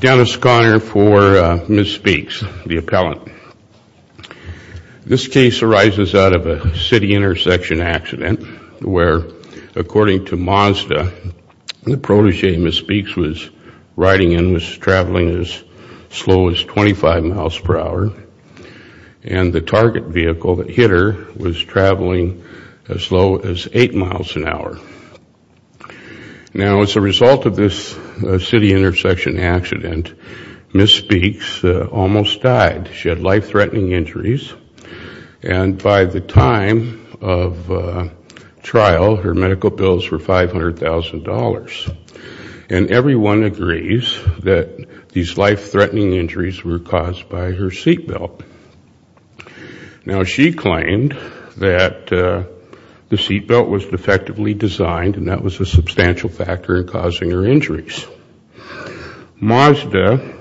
Dennis Conner for Ms. Speaks, the appellant. This case arises out of a city intersection accident where, according to Mazda, the protege Ms. Speaks was riding in was traveling as slow as 25 miles per hour, and the target vehicle that hit her was traveling as slow as 8 miles an hour. Now as a result of this city intersection accident, Ms. Speaks almost died. She had life-threatening injuries. And by the time of trial, her medical bills were $500,000. And everyone agrees that these life-threatening injuries were caused by her seat belt. Now she claimed that the seat belt was defectively designed, and that was a substantial factor in causing her injuries. Mazda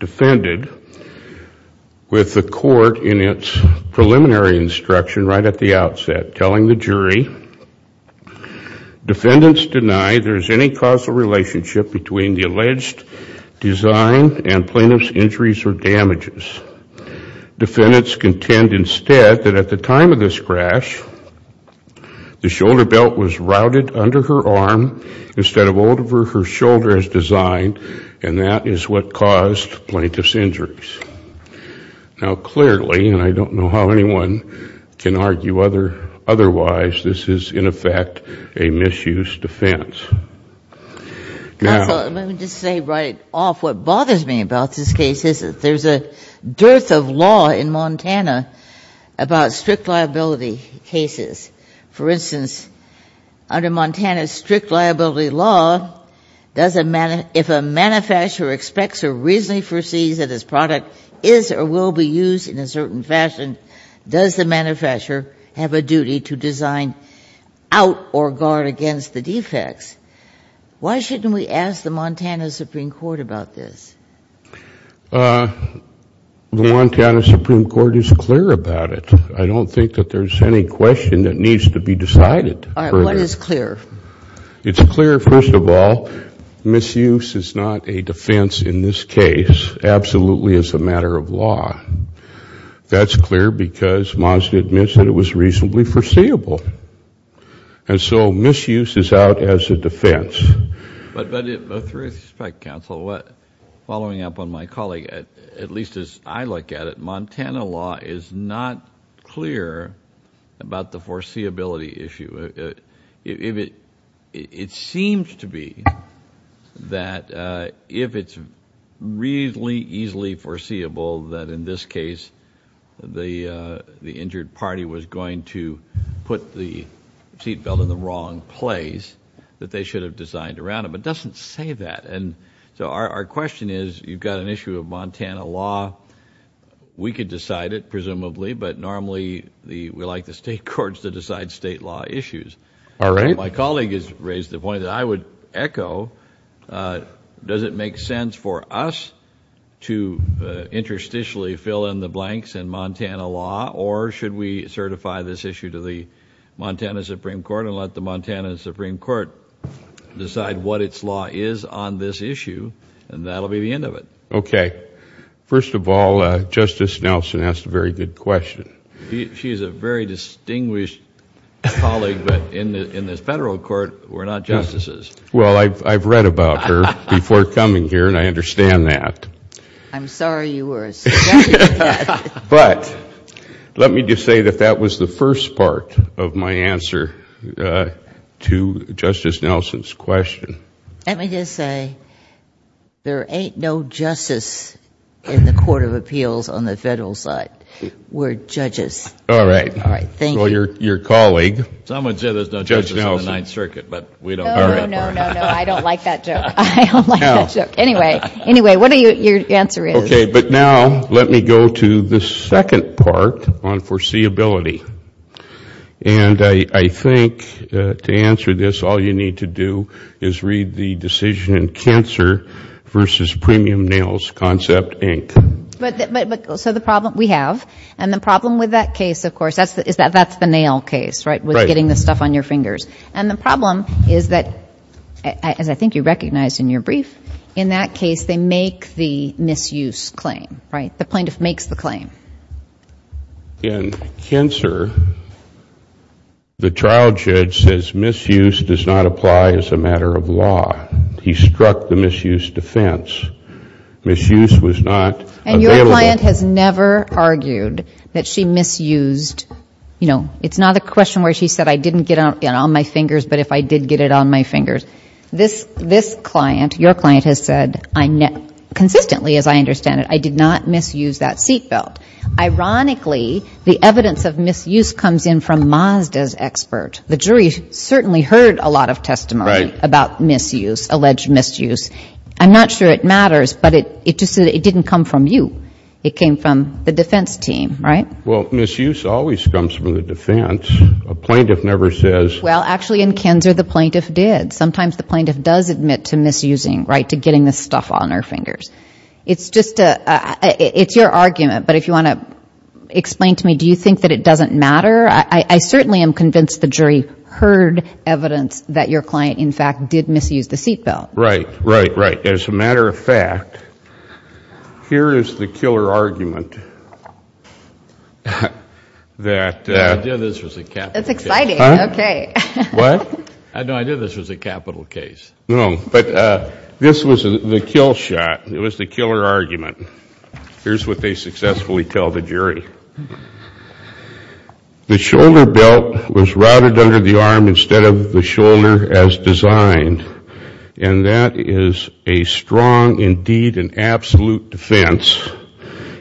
defended with the court in its preliminary instruction right at the outset, telling the jury, defendants deny there is any causal relationship between the alleged design and plaintiff's injuries or damages. Defendants contend instead that at the time of this crash, the shoulder belt was routed under her arm instead of over her shoulder as designed, and that is what caused plaintiff's injuries. Now clearly, and I don't know how anyone can argue otherwise, this is in effect a misuse defense. Now— Counsel, let me just say right off what bothers me about this case is that there's a dearth of law in Montana about strict liability cases. For instance, under Montana's strict liability law, if a manufacturer expects or reasonably foresees that his product is or will be used in a certain fashion, does the manufacturer have a duty to design out or guard against the defects? Why shouldn't we ask the Montana Supreme Court about this? The Montana Supreme Court is clear about it. I don't think that there's any question that needs to be decided. All right. What is clear? It's clear, first of all, misuse is not a defense in this case, absolutely as a matter of law. That's clear because Mazda admits that it was reasonably foreseeable. And so misuse is out as a defense. But with respect, counsel, following up on my colleague, at least as I look at it, Montana law is not clear about the foreseeability issue. It seems to be that if it's reasonably easily foreseeable that in this case the injured party was going to put the seat belt in the wrong place, that they should have designed around it. But it doesn't say that. And so our question is, you've got an issue of Montana law. We could decide it, presumably, but normally we like the state courts to decide state law issues. All right. My colleague has raised the point that I would echo. Does it make sense for us to interstitially fill in the blanks in Montana law? Or should we certify this issue to the Montana Supreme Court and let the Montana Supreme Court decide what its law is on this issue? And that'll be the end of it. Okay. First of all, Justice Nelson asked a very good question. She's a very distinguished colleague, but in the federal court, we're not justices. Well, I've read about her before coming here, and I understand that. I'm sorry you were a subject to that. But let me just say that that was the first part of my answer to Justice Nelson's question. Let me just say, there ain't no justice in the Court of Appeals on the federal side. We're judges. All right. All right. Thank you. So your colleague, Judge Nelson. Someone said there's no justice in the Ninth Circuit, but we don't know that part. No, no, no, no, no. I don't like that joke. I don't like that joke. Anyway. Anyway, what your answer is. Okay. But now let me go to the second part on foreseeability. And I think to answer this, all you need to do is read the decision in Cancer v. Premium Nails Concept, Inc. But so the problem we have, and the problem with that case, of course, is that that's the nail case, right? Right. With getting the stuff on your fingers. And the problem is that, as I think you recognized in your brief, in that case, they make the misuse claim, right? The plaintiff makes the claim. In Cancer, the trial judge says misuse does not apply as a matter of law. He struck the misuse defense. Misuse was not available. And your client has never argued that she misused, you know, it's not a question where she said I didn't get it on my fingers, but if I did get it on my fingers. This client, your client, has said consistently, as I understand it, I did not misuse that seatbelt. Ironically, the evidence of misuse comes in from Mazda's expert. The jury certainly heard a lot of testimony about misuse, alleged misuse. I'm not sure it matters, but it just didn't come from you. It came from the defense team, right? Well, misuse always comes from the defense. A plaintiff never says. Well, actually, in Cancer, the plaintiff did. Sometimes the plaintiff does admit to misusing, right, to getting the stuff on her fingers. It's just a, it's your argument, but if you want to explain to me, do you think that it doesn't matter? I certainly am convinced the jury heard evidence that your client, in fact, did misuse the seatbelt. Right. Right. Right. As a matter of fact, here is the killer argument that. I knew this was a capital case. That's exciting. Okay. What? No, I knew this was a capital case. No, but this was the kill shot. It was the killer argument. Here's what they successfully tell the jury. The shoulder belt was routed under the arm instead of the shoulder as designed, and that is a strong, indeed, an absolute defense.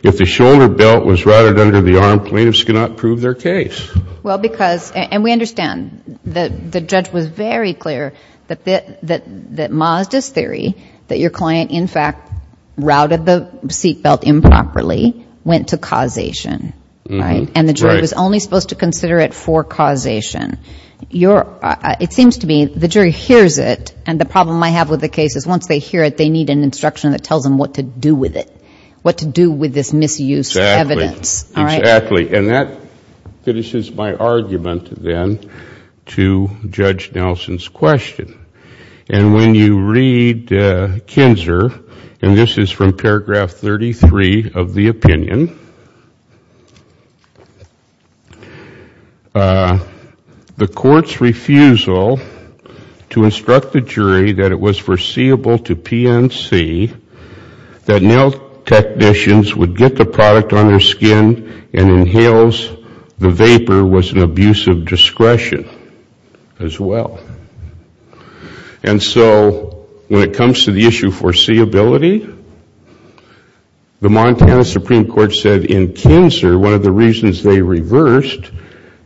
If the shoulder belt was routed under the arm, plaintiffs cannot prove their case. Well, because, and we understand, the judge was very clear that Mazda's theory, that your client, in fact, routed the seatbelt improperly, went to causation, right? And the jury was only supposed to consider it for causation. It seems to me the jury hears it, and the problem I have with the case is once they hear it, they need an instruction that tells them what to do with it, what to do with this misuse of evidence. Exactly. Exactly. And that finishes my argument, then, to Judge Nelson's question. And when you read Kinzer, and this is from paragraph 33 of the opinion, the court's refusal to instruct the jury that it was foreseeable to PNC that nail technicians would get the nails, the vapor was an abuse of discretion as well. And so when it comes to the issue of foreseeability, the Montana Supreme Court said in Kinzer one of the reasons they reversed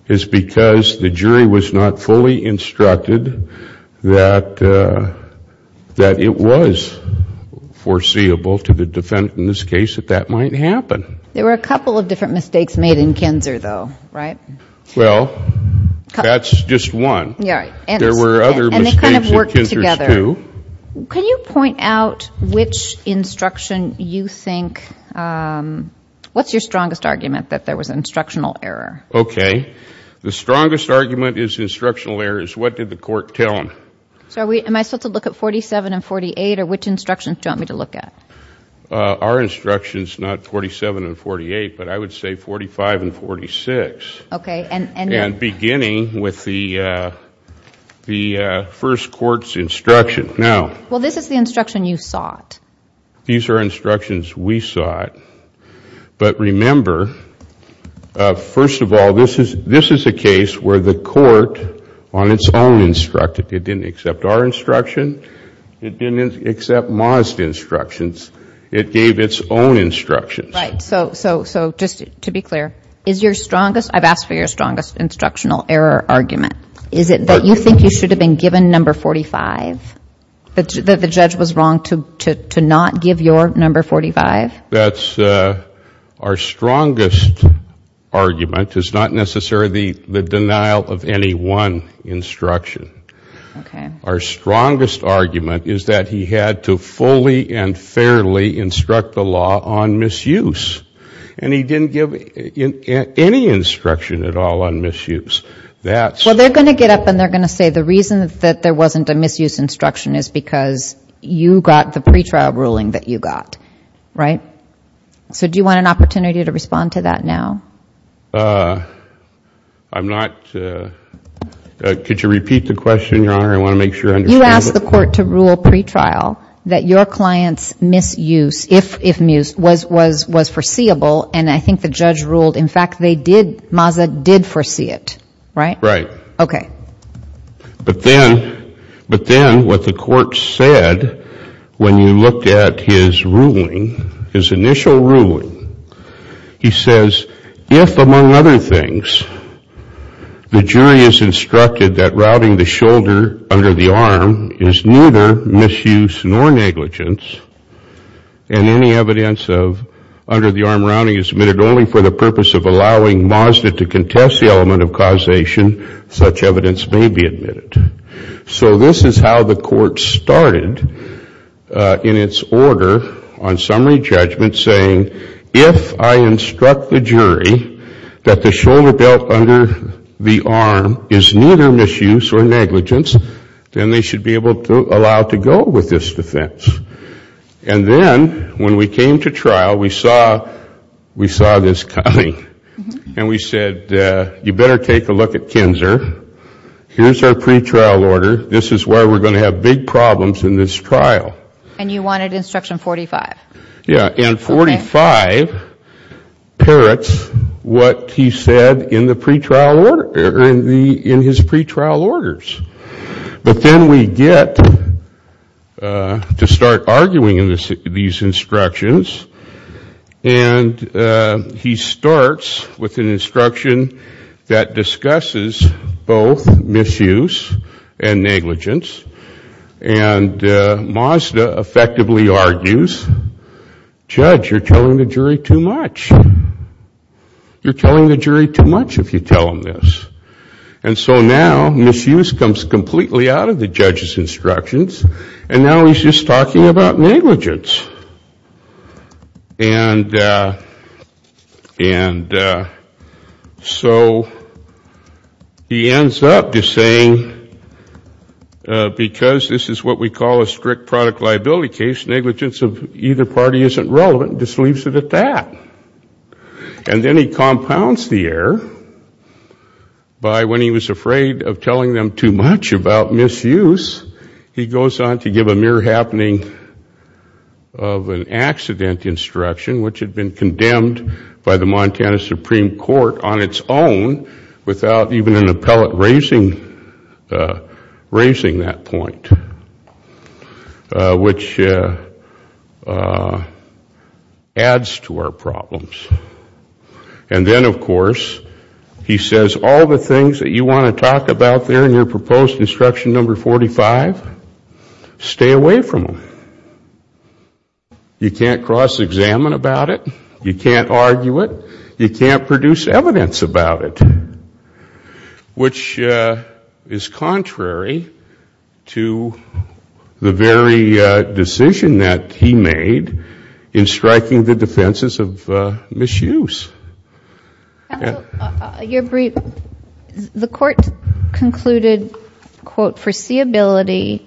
is because the jury was not fully instructed that it was foreseeable to the defendant in this case that that might happen. There were a couple of different mistakes made in Kinzer, though, right? Well, that's just one. There were other mistakes in Kinzer's two. Can you point out which instruction you think, what's your strongest argument, that there was an instructional error? Okay. The strongest argument is instructional errors. What did the court tell them? So am I supposed to look at 47 and 48, or which instructions do you want me to look at? Our instructions, not 47 and 48, but I would say 45 and 46. Okay. And beginning with the first court's instruction. Now. Well, this is the instruction you sought. These are instructions we sought. But remember, first of all, this is a case where the court on its own instructed. It didn't accept our instruction. It didn't accept Mazda's instructions. It gave its own instructions. Right. So just to be clear, is your strongest, I've asked for your strongest instructional error argument, is it that you think you should have been given number 45, that the judge was wrong to not give your number 45? That's our strongest argument is not necessarily the denial of any one instruction. Okay. Our strongest argument is that he had to fully and fairly instruct the law on misuse. And he didn't give any instruction at all on misuse. That's. Well, they're going to get up and they're going to say the reason that there wasn't a misuse instruction is because you got the pretrial ruling that you got. Right? So do you want an opportunity to respond to that now? I'm not. Could you repeat the question, Your Honor? I want to make sure I understand. You asked the court to rule pretrial that your client's misuse, if misuse, was foreseeable. And I think the judge ruled, in fact, they did, Mazda did foresee it. Right? Right. Okay. But then, but then what the court said when you looked at his ruling, his initial ruling, he says, if, among other things, the jury is instructed that routing the shoulder under the arm is neither misuse nor negligence, and any evidence of under the arm routing is submitted only for the purpose of allowing Mazda to contest the element of causation, such evidence may be admitted. So this is how the court started in its order on summary judgment, saying, if I instruct the jury that the shoulder belt under the arm is neither misuse or negligence, then they should be able to allow to go with this defense. And then when we came to trial, we saw this coming, and we said, you better take a look at Kinzer. Here's our pretrial order. This is where we're going to have big problems in this trial. And you wanted instruction 45. Yeah. And 45 parrots what he said in the pretrial order, in his pretrial orders. But then we get to start arguing in these instructions, and he starts with an instruction that discusses both misuse and negligence, and Mazda effectively argues, judge, you're telling the jury too much. You're telling the jury too much if you tell them this. And so now misuse comes completely out of the judge's instructions, and now he's just talking about negligence. And so he ends up just saying, because this is what we call a strict product liability case, negligence of either party isn't relevant, just leaves it at that. And then he compounds the error by, when he was afraid of telling them too much about misuse, he goes on to give a mere happening of an accident instruction, which had been condemned by the Montana Supreme Court on its own, without even an appellate raising that point, which adds to our problems. And then, of course, he says, all the things that you want to talk about there in your proposed instruction number 45, stay away from them. You can't cross-examine about it. You can't argue it. You can't produce evidence about it, which is contrary to the very decision that he made in striking the defenses of misuse. Counsel, your brief, the court concluded, quote, foreseeability,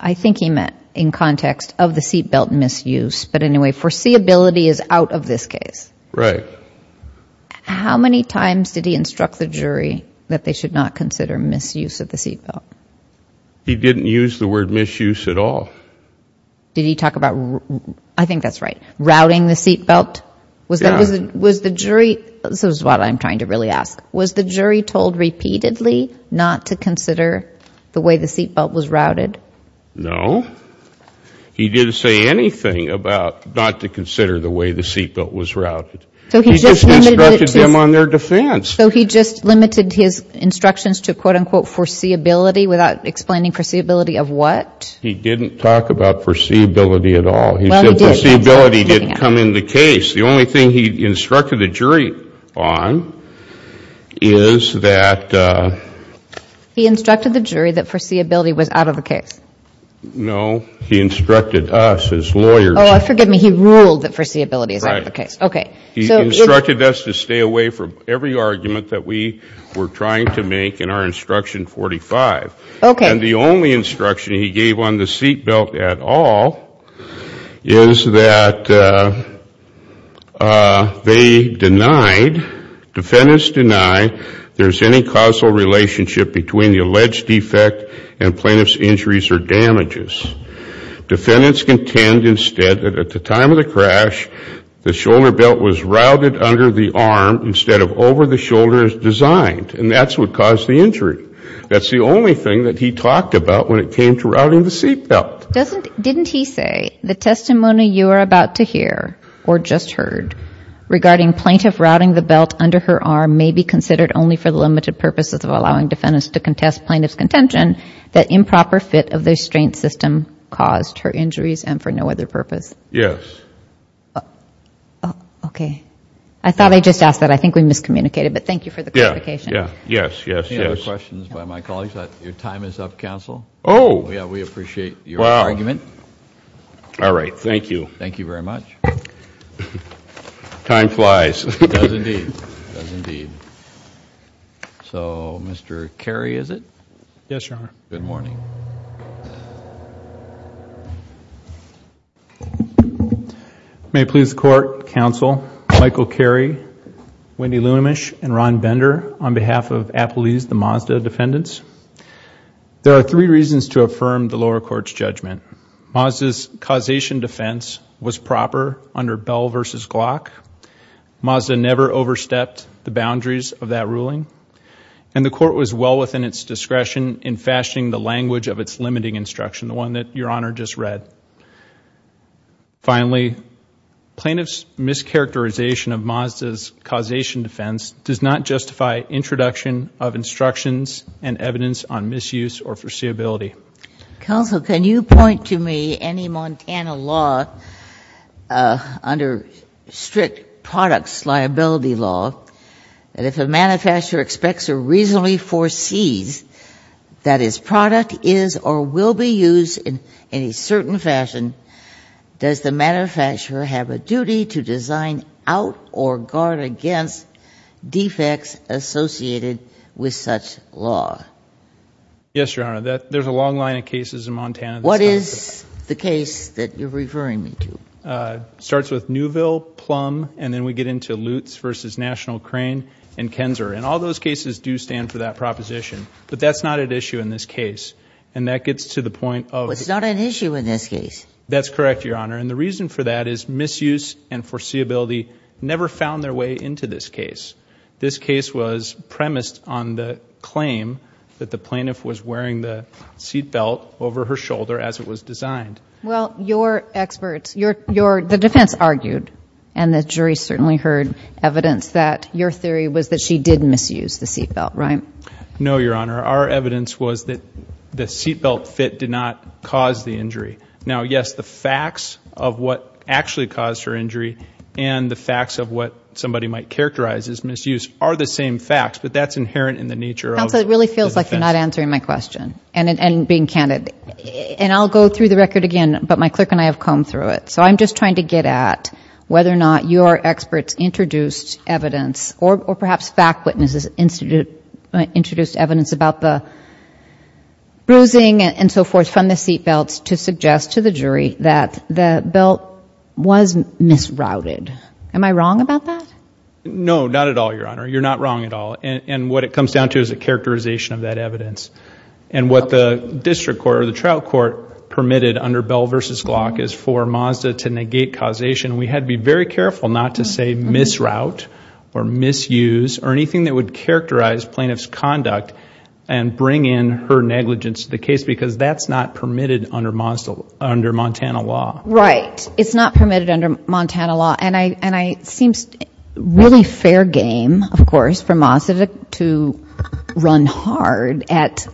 I think he meant in context of the seat belt misuse, but anyway, foreseeability is out of this case. Right. How many times did he instruct the jury that they should not consider misuse of the seat belt? He didn't use the word misuse at all. Did he talk about, I think that's right, routing the seat belt? Yeah. Was the jury, this is what I'm trying to really ask, was the jury told repeatedly not to consider the way the seat belt was routed? No. He didn't say anything about not to consider the way the seat belt was routed. He just instructed them on their defense. So he just limited his instructions to, quote, unquote, foreseeability, without explaining foreseeability of what? He didn't talk about foreseeability at all. He said foreseeability didn't come in the case. The only thing he instructed the jury on is that. He instructed the jury that foreseeability was out of the case. No, he instructed us as lawyers. Oh, forgive me. He ruled that foreseeability is out of the case. Okay. He instructed us to stay away from every argument that we were trying to make in our instruction 45. Okay. And the only instruction he gave on the seat belt at all is that they denied, defendants denied there's any causal relationship between the alleged defect and plaintiff's injuries or damages. Defendants contend instead that at the time of the crash, the shoulder belt was routed under the arm instead of over the shoulder as designed, and that's what caused the injury. That's the only thing that he talked about when it came to routing the seat belt. Didn't he say the testimony you are about to hear or just heard regarding plaintiff routing the belt under her arm may be considered only for the limited purposes of allowing defendants to contest plaintiff's contention that improper fit of the restraint system caused her injuries and for no other purpose? Yes. Okay. I thought I just asked that. I think we miscommunicated, but thank you for the clarification. Yes, yes, yes. We have a number of questions by my colleagues. Your time is up, Counsel. Oh. Yeah, we appreciate your argument. Wow. All right. Thank you. Thank you very much. Time flies. It does indeed. It does indeed. So Mr. Carey, is it? Yes, Your Honor. Good morning. May it please the Court, Counsel, Michael Carey, Wendy Lunamish, and Ron Bender on behalf of Appelese, the Mazda defendants. There are three reasons to affirm the lower court's judgment. Mazda's causation defense was proper under Bell v. Glock. Mazda never overstepped the boundaries of that ruling, and the court was well within its discretion in fashioning the language of its limiting instruction, the one that Your Honor just read. Finally, plaintiff's mischaracterization of Mazda's causation defense does not justify introduction of instructions and evidence on misuse or foreseeability. Counsel, can you point to me any Montana law under strict products liability law that if a manufacturer expects or reasonably foresees that his product is or will be used in a certain fashion, does the manufacturer have a duty to design out or guard against defects associated with such law? Yes, Your Honor. There's a long line of cases in Montana. What is the case that you're referring me to? Starts with Neuville, Plum, and then we get into Lutz v. National Crane, and Kenzer. All those cases do stand for that proposition, but that's not at issue in this case. That gets to the point of... No, it's not an issue in this case. That's correct, Your Honor, and the reason for that is misuse and foreseeability never found their way into this case. This case was premised on the claim that the plaintiff was wearing the seatbelt over her shoulder as it was designed. Well, your experts, the defense argued, and the jury certainly heard evidence that your theory was that she did misuse the seatbelt, right? No, Your Honor. Our evidence was that the seatbelt fit did not cause the injury. Now, yes, the facts of what actually caused her injury and the facts of what somebody might characterize as misuse are the same facts, but that's inherent in the nature of the defense. Counsel, it really feels like you're not answering my question and being candid. I'll go through the record again, but my clerk and I have combed through it. So I'm just trying to get at whether or not your experts introduced evidence or perhaps fact witnesses introduced evidence about the bruising and so forth from the seatbelts to suggest to the jury that the belt was misrouted. Am I wrong about that? No, not at all, Your Honor. You're not wrong at all, and what it comes down to is a characterization of that evidence, and what the district court or the trial court permitted under Bell v. Glock is for Mazda to negate causation. We had to be very careful not to say misroute or misuse or anything that would characterize plaintiff's conduct and bring in her negligence to the case because that's not permitted under Montana law. Right. It's not permitted under Montana law, and it seems really fair game, of course, for Mazda to run hard at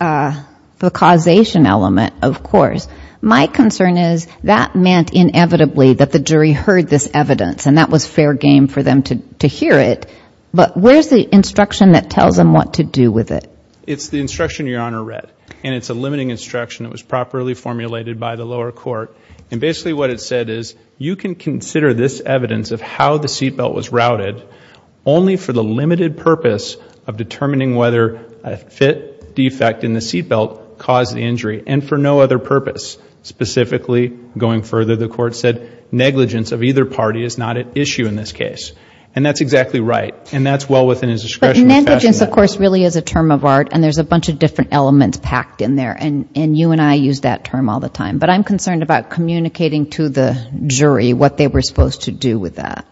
the causation element, of course. My concern is that meant inevitably that the jury heard this evidence, and that was fair game for them to hear it, but where's the instruction that tells them what to do with it? It's the instruction Your Honor read, and it's a limiting instruction that was properly formulated by the lower court, and basically what it said is you can consider this evidence of how the seatbelt was routed only for the limited purpose of determining whether a fit was specifically going further. The court said negligence of either party is not at issue in this case, and that's exactly right, and that's well within his discretion. But negligence, of course, really is a term of art, and there's a bunch of different elements packed in there, and you and I use that term all the time, but I'm concerned about communicating to the jury what they were supposed to do with that.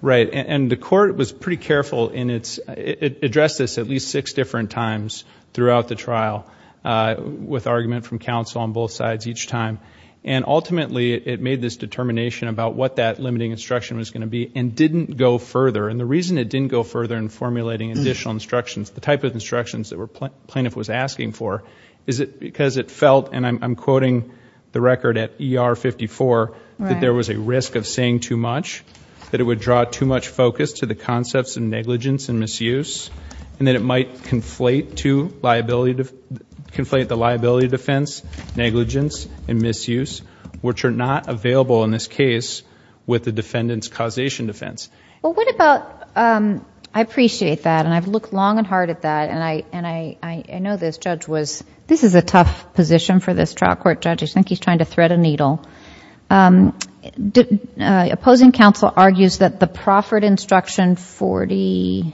Right, and the court was pretty careful in its, it addressed this at least six different times throughout the trial with argument from counsel on both sides each time, and ultimately it made this determination about what that limiting instruction was going to be and didn't go further, and the reason it didn't go further in formulating additional instructions, the type of instructions that the plaintiff was asking for, is it because it felt, and I'm quoting the record at ER 54, that there was a risk of saying too much, that it would draw too much focus to the concepts of negligence and misuse, and that it might conflate the liability defense, negligence, and misuse, which are not available in this case with the defendant's causation defense. Well, what about, I appreciate that, and I've looked long and hard at that, and I know this judge was, this is a tough position for this trial court judge, I think he's trying to thread a needle. Opposing counsel argues that the proffered instruction 45,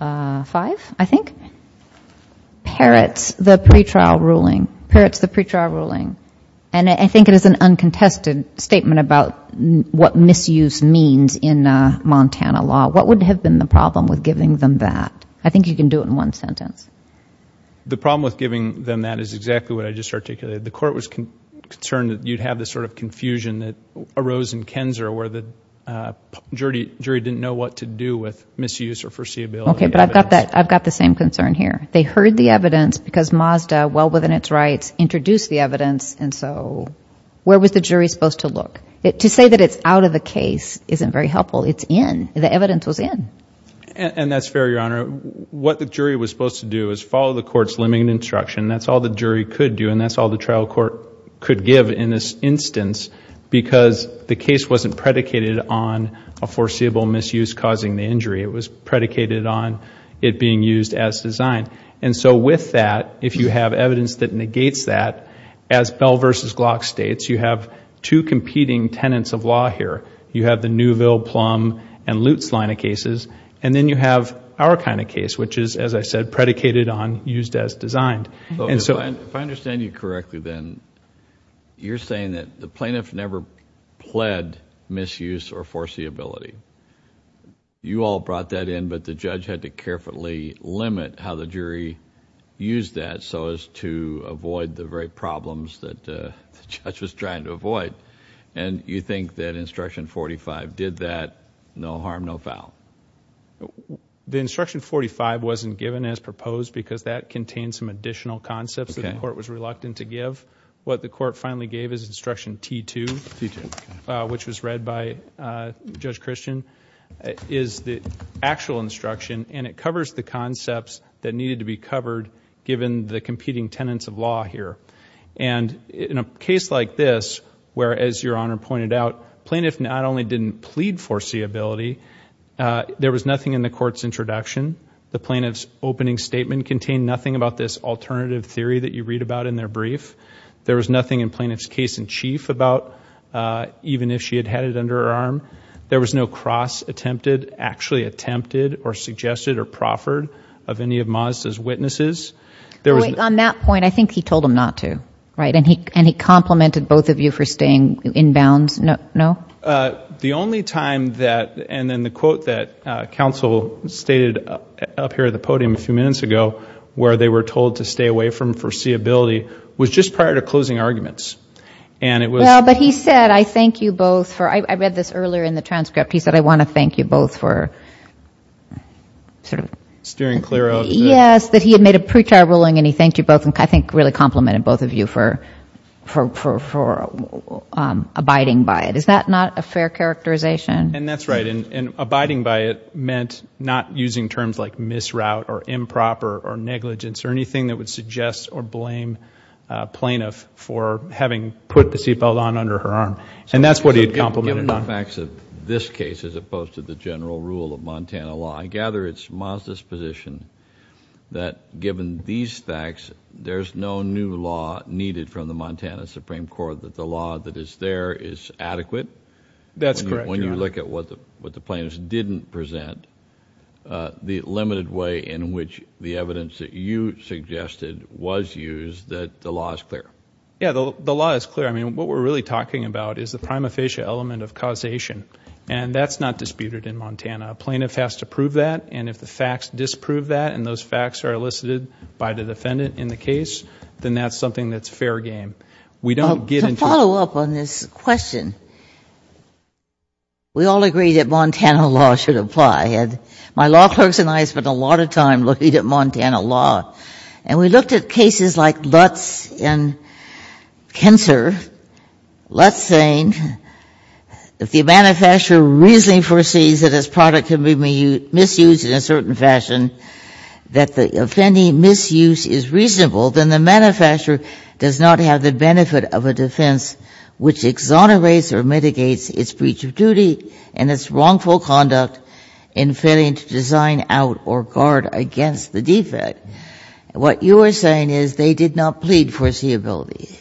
I think, parrots the pretrial ruling, parrots the pretrial ruling, and I think it is an uncontested statement about what misuse means in Montana law. What would have been the problem with giving them that? I think you can do it in one sentence. The problem with giving them that is exactly what I just articulated. The court was concerned that you'd have this sort of confusion that arose in Kenser where the jury didn't know what to do with misuse or foreseeability. Okay, but I've got the same concern here. They heard the evidence because Mazda, well within its rights, introduced the evidence, and so where was the jury supposed to look? To say that it's out of the case isn't very helpful. It's in. The evidence was in. And that's fair, Your Honor. What the jury was supposed to do is follow the court's limiting instruction. That's all the jury could do, and that's all the trial court could give in this instance because the case wasn't predicated on a foreseeable misuse causing the injury. It was predicated on it being used as designed. And so with that, if you have evidence that negates that, as Bell v. Glock states, you have two competing tenants of law here. You have the Newville, Plum, and Lutz line of cases, and then you have our kind of case, which is, as I said, predicated on used as designed. And so... If I understand you correctly then, you're saying that the plaintiff never pled misuse or foreseeability. You all brought that in, but the judge had to carefully limit how the jury used that so as to avoid the very problems that the judge was trying to avoid. And you think that Instruction 45 did that, no harm, no foul? The Instruction 45 wasn't given as proposed because that contained some additional concepts that the court was reluctant to give. What the court finally gave is Instruction T2, which was read by Judge Christian, is the actual instruction, and it covers the concepts that needed to be covered given the competing tenants of law here. And in a case like this, where as Your Honor pointed out, plaintiff not only didn't plead foreseeability, there was nothing in the court's introduction. The plaintiff's opening statement contained nothing about this alternative theory that you read about in their brief. There was nothing in plaintiff's case in chief about even if she had had it under her arm. There was no cross-attempted, actually attempted, or suggested, or proffered of any of Mazda's witnesses. There was... On that point, I think he told them not to, right? And he complimented both of you for staying inbounds, no? The only time that, and then the quote that counsel stated up here at the podium a few minutes ago, where they were told to stay away from foreseeability, was just prior to closing arguments. And it was... Well, but he said, I thank you both for... I read this earlier in the transcript. He said, I want to thank you both for... Steering clear of... Yes, that he had made a pre-trial ruling and he thanked you both, and I think really complimented both of you for abiding by it. Is that not a fair characterization? And that's right. And abiding by it meant not using terms like misroute, or improper, or negligence, or anything that would suggest or blame a plaintiff for having put the seatbelt on under her arm. And that's what he had complimented on. Given the facts of this case, as opposed to the general rule of Montana law, I gather it's Mazda's position that given these facts, there's no new law needed from the Montana Supreme Court, that the law that is there is adequate? That's correct, Your Honor. When you look at what the plaintiffs didn't present, the limited way in which the evidence that you suggested was used, that the law is clear? Yeah, the law is clear. I mean, what we're really talking about is the prima facie element of causation. And that's not disputed in Montana. A plaintiff has to prove that, and if the facts disprove that, and those facts are elicited by the defendant in the case, then that's something that's fair game. We don't get into a To follow up on this question, we all agree that Montana law should apply. My law clerks and I spend a lot of time looking at Montana law. And we looked at cases like Lutz and Kenser, Lutz saying, if the manufacturer reasonably foresees that its product can be misused in a certain fashion, that the offending misuse is reasonable, then the manufacturer does not have the benefit of a defense which exonerates or mitigates its breach of duty and its wrongful conduct in failing to design out or guard against the defect. What you are saying is they did not plead foreseeability.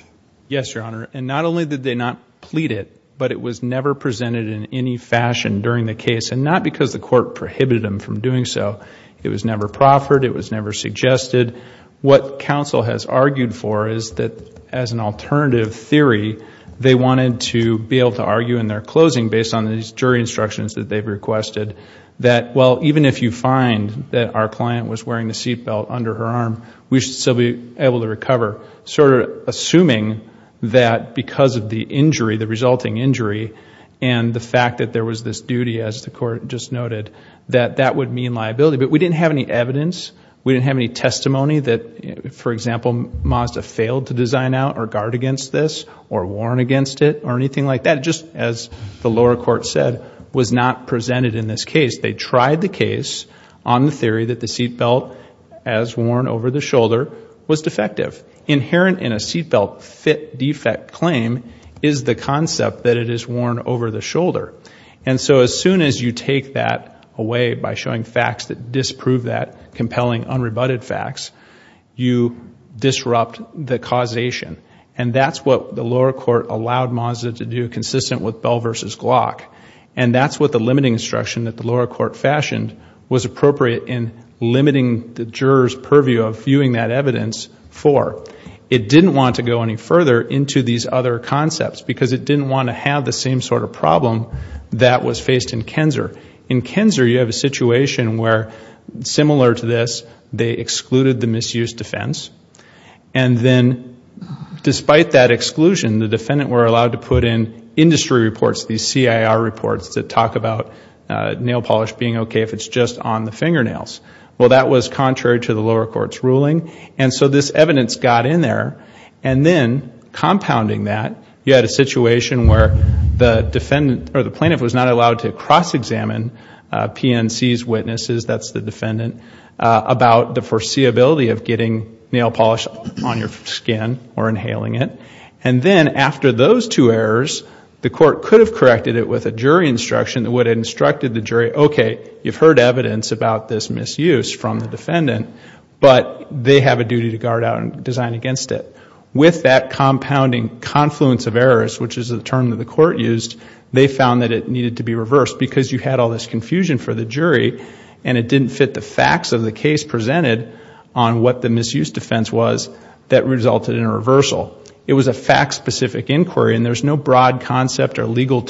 Yes, Your Honor. And not only did they not plead it, but it was never presented in any fashion during the case. And not because the court prohibited them from doing so. It was never proffered. It was never suggested. What counsel has argued for is that as an alternative theory, they wanted to be able to argue in their closing based on these jury instructions that they've requested, that well, even if you find that our client was wearing the seatbelt under her arm, we should still be able to recover. Sort of assuming that because of the injury, the resulting injury, and the fact that there was this duty, as the court just noted, that that would mean liability. But we didn't have any evidence. We didn't have any testimony that, for example, Mazda failed to design out or guard against this or warn against it or anything like that. Just as the lower court said, was not presented in this case. They tried the case on the theory that the seatbelt, as worn over the shoulder, was defective. Inherent in a seatbelt defect claim is the concept that it is worn over the shoulder. And so as soon as you take that away by showing facts that disprove that, compelling unrebutted facts, you disrupt the causation. And that's what the lower court allowed Mazda to do, consistent with Bell v. Glock. And that's what the limiting instruction that the lower court fashioned was appropriate in limiting the juror's purview of viewing that evidence for. It didn't want to go any further into these other concepts because it didn't want to have the same sort of problem that was faced in Kenzer. In Kenzer, you have a situation where, similar to this, they excluded the misuse defense. And then, despite that exclusion, the defendant were allowed to put in industry reports, these fingernails. Well, that was contrary to the lower court's ruling. And so this evidence got in there. And then, compounding that, you had a situation where the defendant, or the plaintiff, was not allowed to cross-examine PNC's witnesses, that's the defendant, about the foreseeability of getting nail polish on your skin or inhaling it. And then, after those two errors, the court could have corrected it with a jury instruction that would have instructed the jury, okay, you've heard evidence about this misuse from the defendant, but they have a duty to guard out and design against it. With that compounding confluence of errors, which is a term that the court used, they found that it needed to be reversed because you had all this confusion for the jury and it didn't fit the facts of the case presented on what the misuse defense was that resulted in a reversal. It was a fact-specific inquiry, and there's no broad concept or legal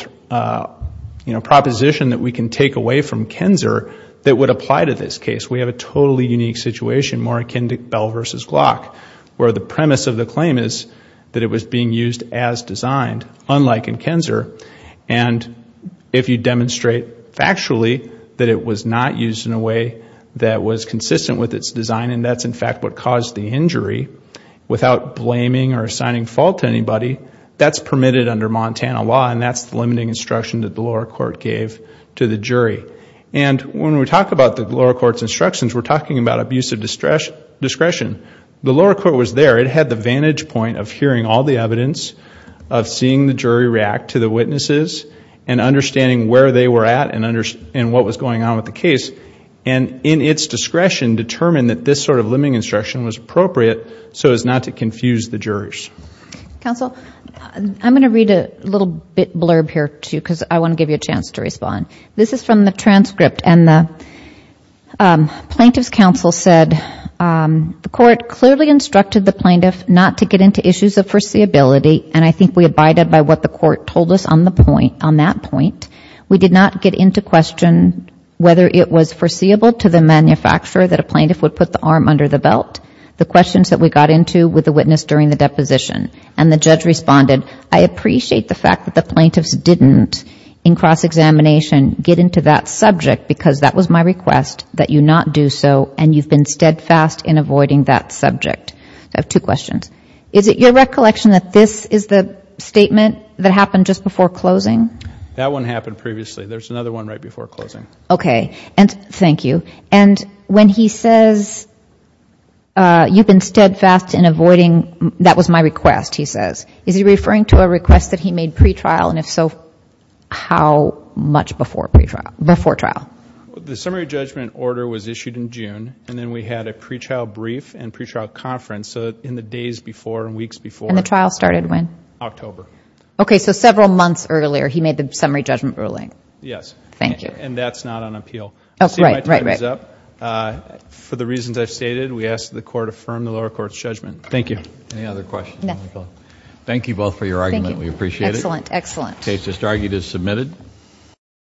proposition that we can take away from Kenzer that would apply to this case. We have a totally unique situation, more akin to Bell v. Glock, where the premise of the claim is that it was being used as designed, unlike in Kenzer. And if you demonstrate factually that it was not used in a way that was consistent with its design, and that's in fact what caused the injury, without blaming or assigning fault to anybody, that's permitted under Montana law, and that's the limiting instruction that the lower court gave to the jury. And when we talk about the lower court's instructions, we're talking about abusive discretion. The lower court was there. It had the vantage point of hearing all the evidence, of seeing the jury react to the witnesses, and understanding where they were at and what was going on with the case. And in its discretion, determined that this sort of limiting instruction was appropriate so as not to confuse the jurors. Counsel, I'm going to read a little bit blurb here, too, because I want to give you a chance to respond. This is from the transcript, and the Plaintiff's Counsel said, the court clearly instructed the plaintiff not to get into issues of foreseeability, and I think we abided by what the court told us on that point. We did not get into question whether it was foreseeable to the manufacturer that a plaintiff would put the arm under the belt. The questions that we got into with the witness during the deposition. And the judge responded, I appreciate the fact that the plaintiffs didn't, in cross-examination, get into that subject, because that was my request, that you not do so, and you've been steadfast in avoiding that subject. I have two questions. Is it your recollection that this is the statement that happened just before closing? That one happened previously. There's another one right before closing. Okay. And thank you. And when he says, you've been steadfast in avoiding, that was my request, he says, is he referring to a request that he made pre-trial, and if so, how much before trial? The summary judgment order was issued in June, and then we had a pre-trial brief and pre-trial conference in the days before and weeks before. And the trial started when? October. Okay, so several months earlier, he made the summary judgment ruling. Yes. Thank you. And that's not on appeal. Oh, right, right, right. See, my time is up. For the reasons I've stated, we ask that the Court affirm the lower court's judgment. Thank you. Any other questions? No. Thank you both for your argument. We appreciate it. Excellent, excellent.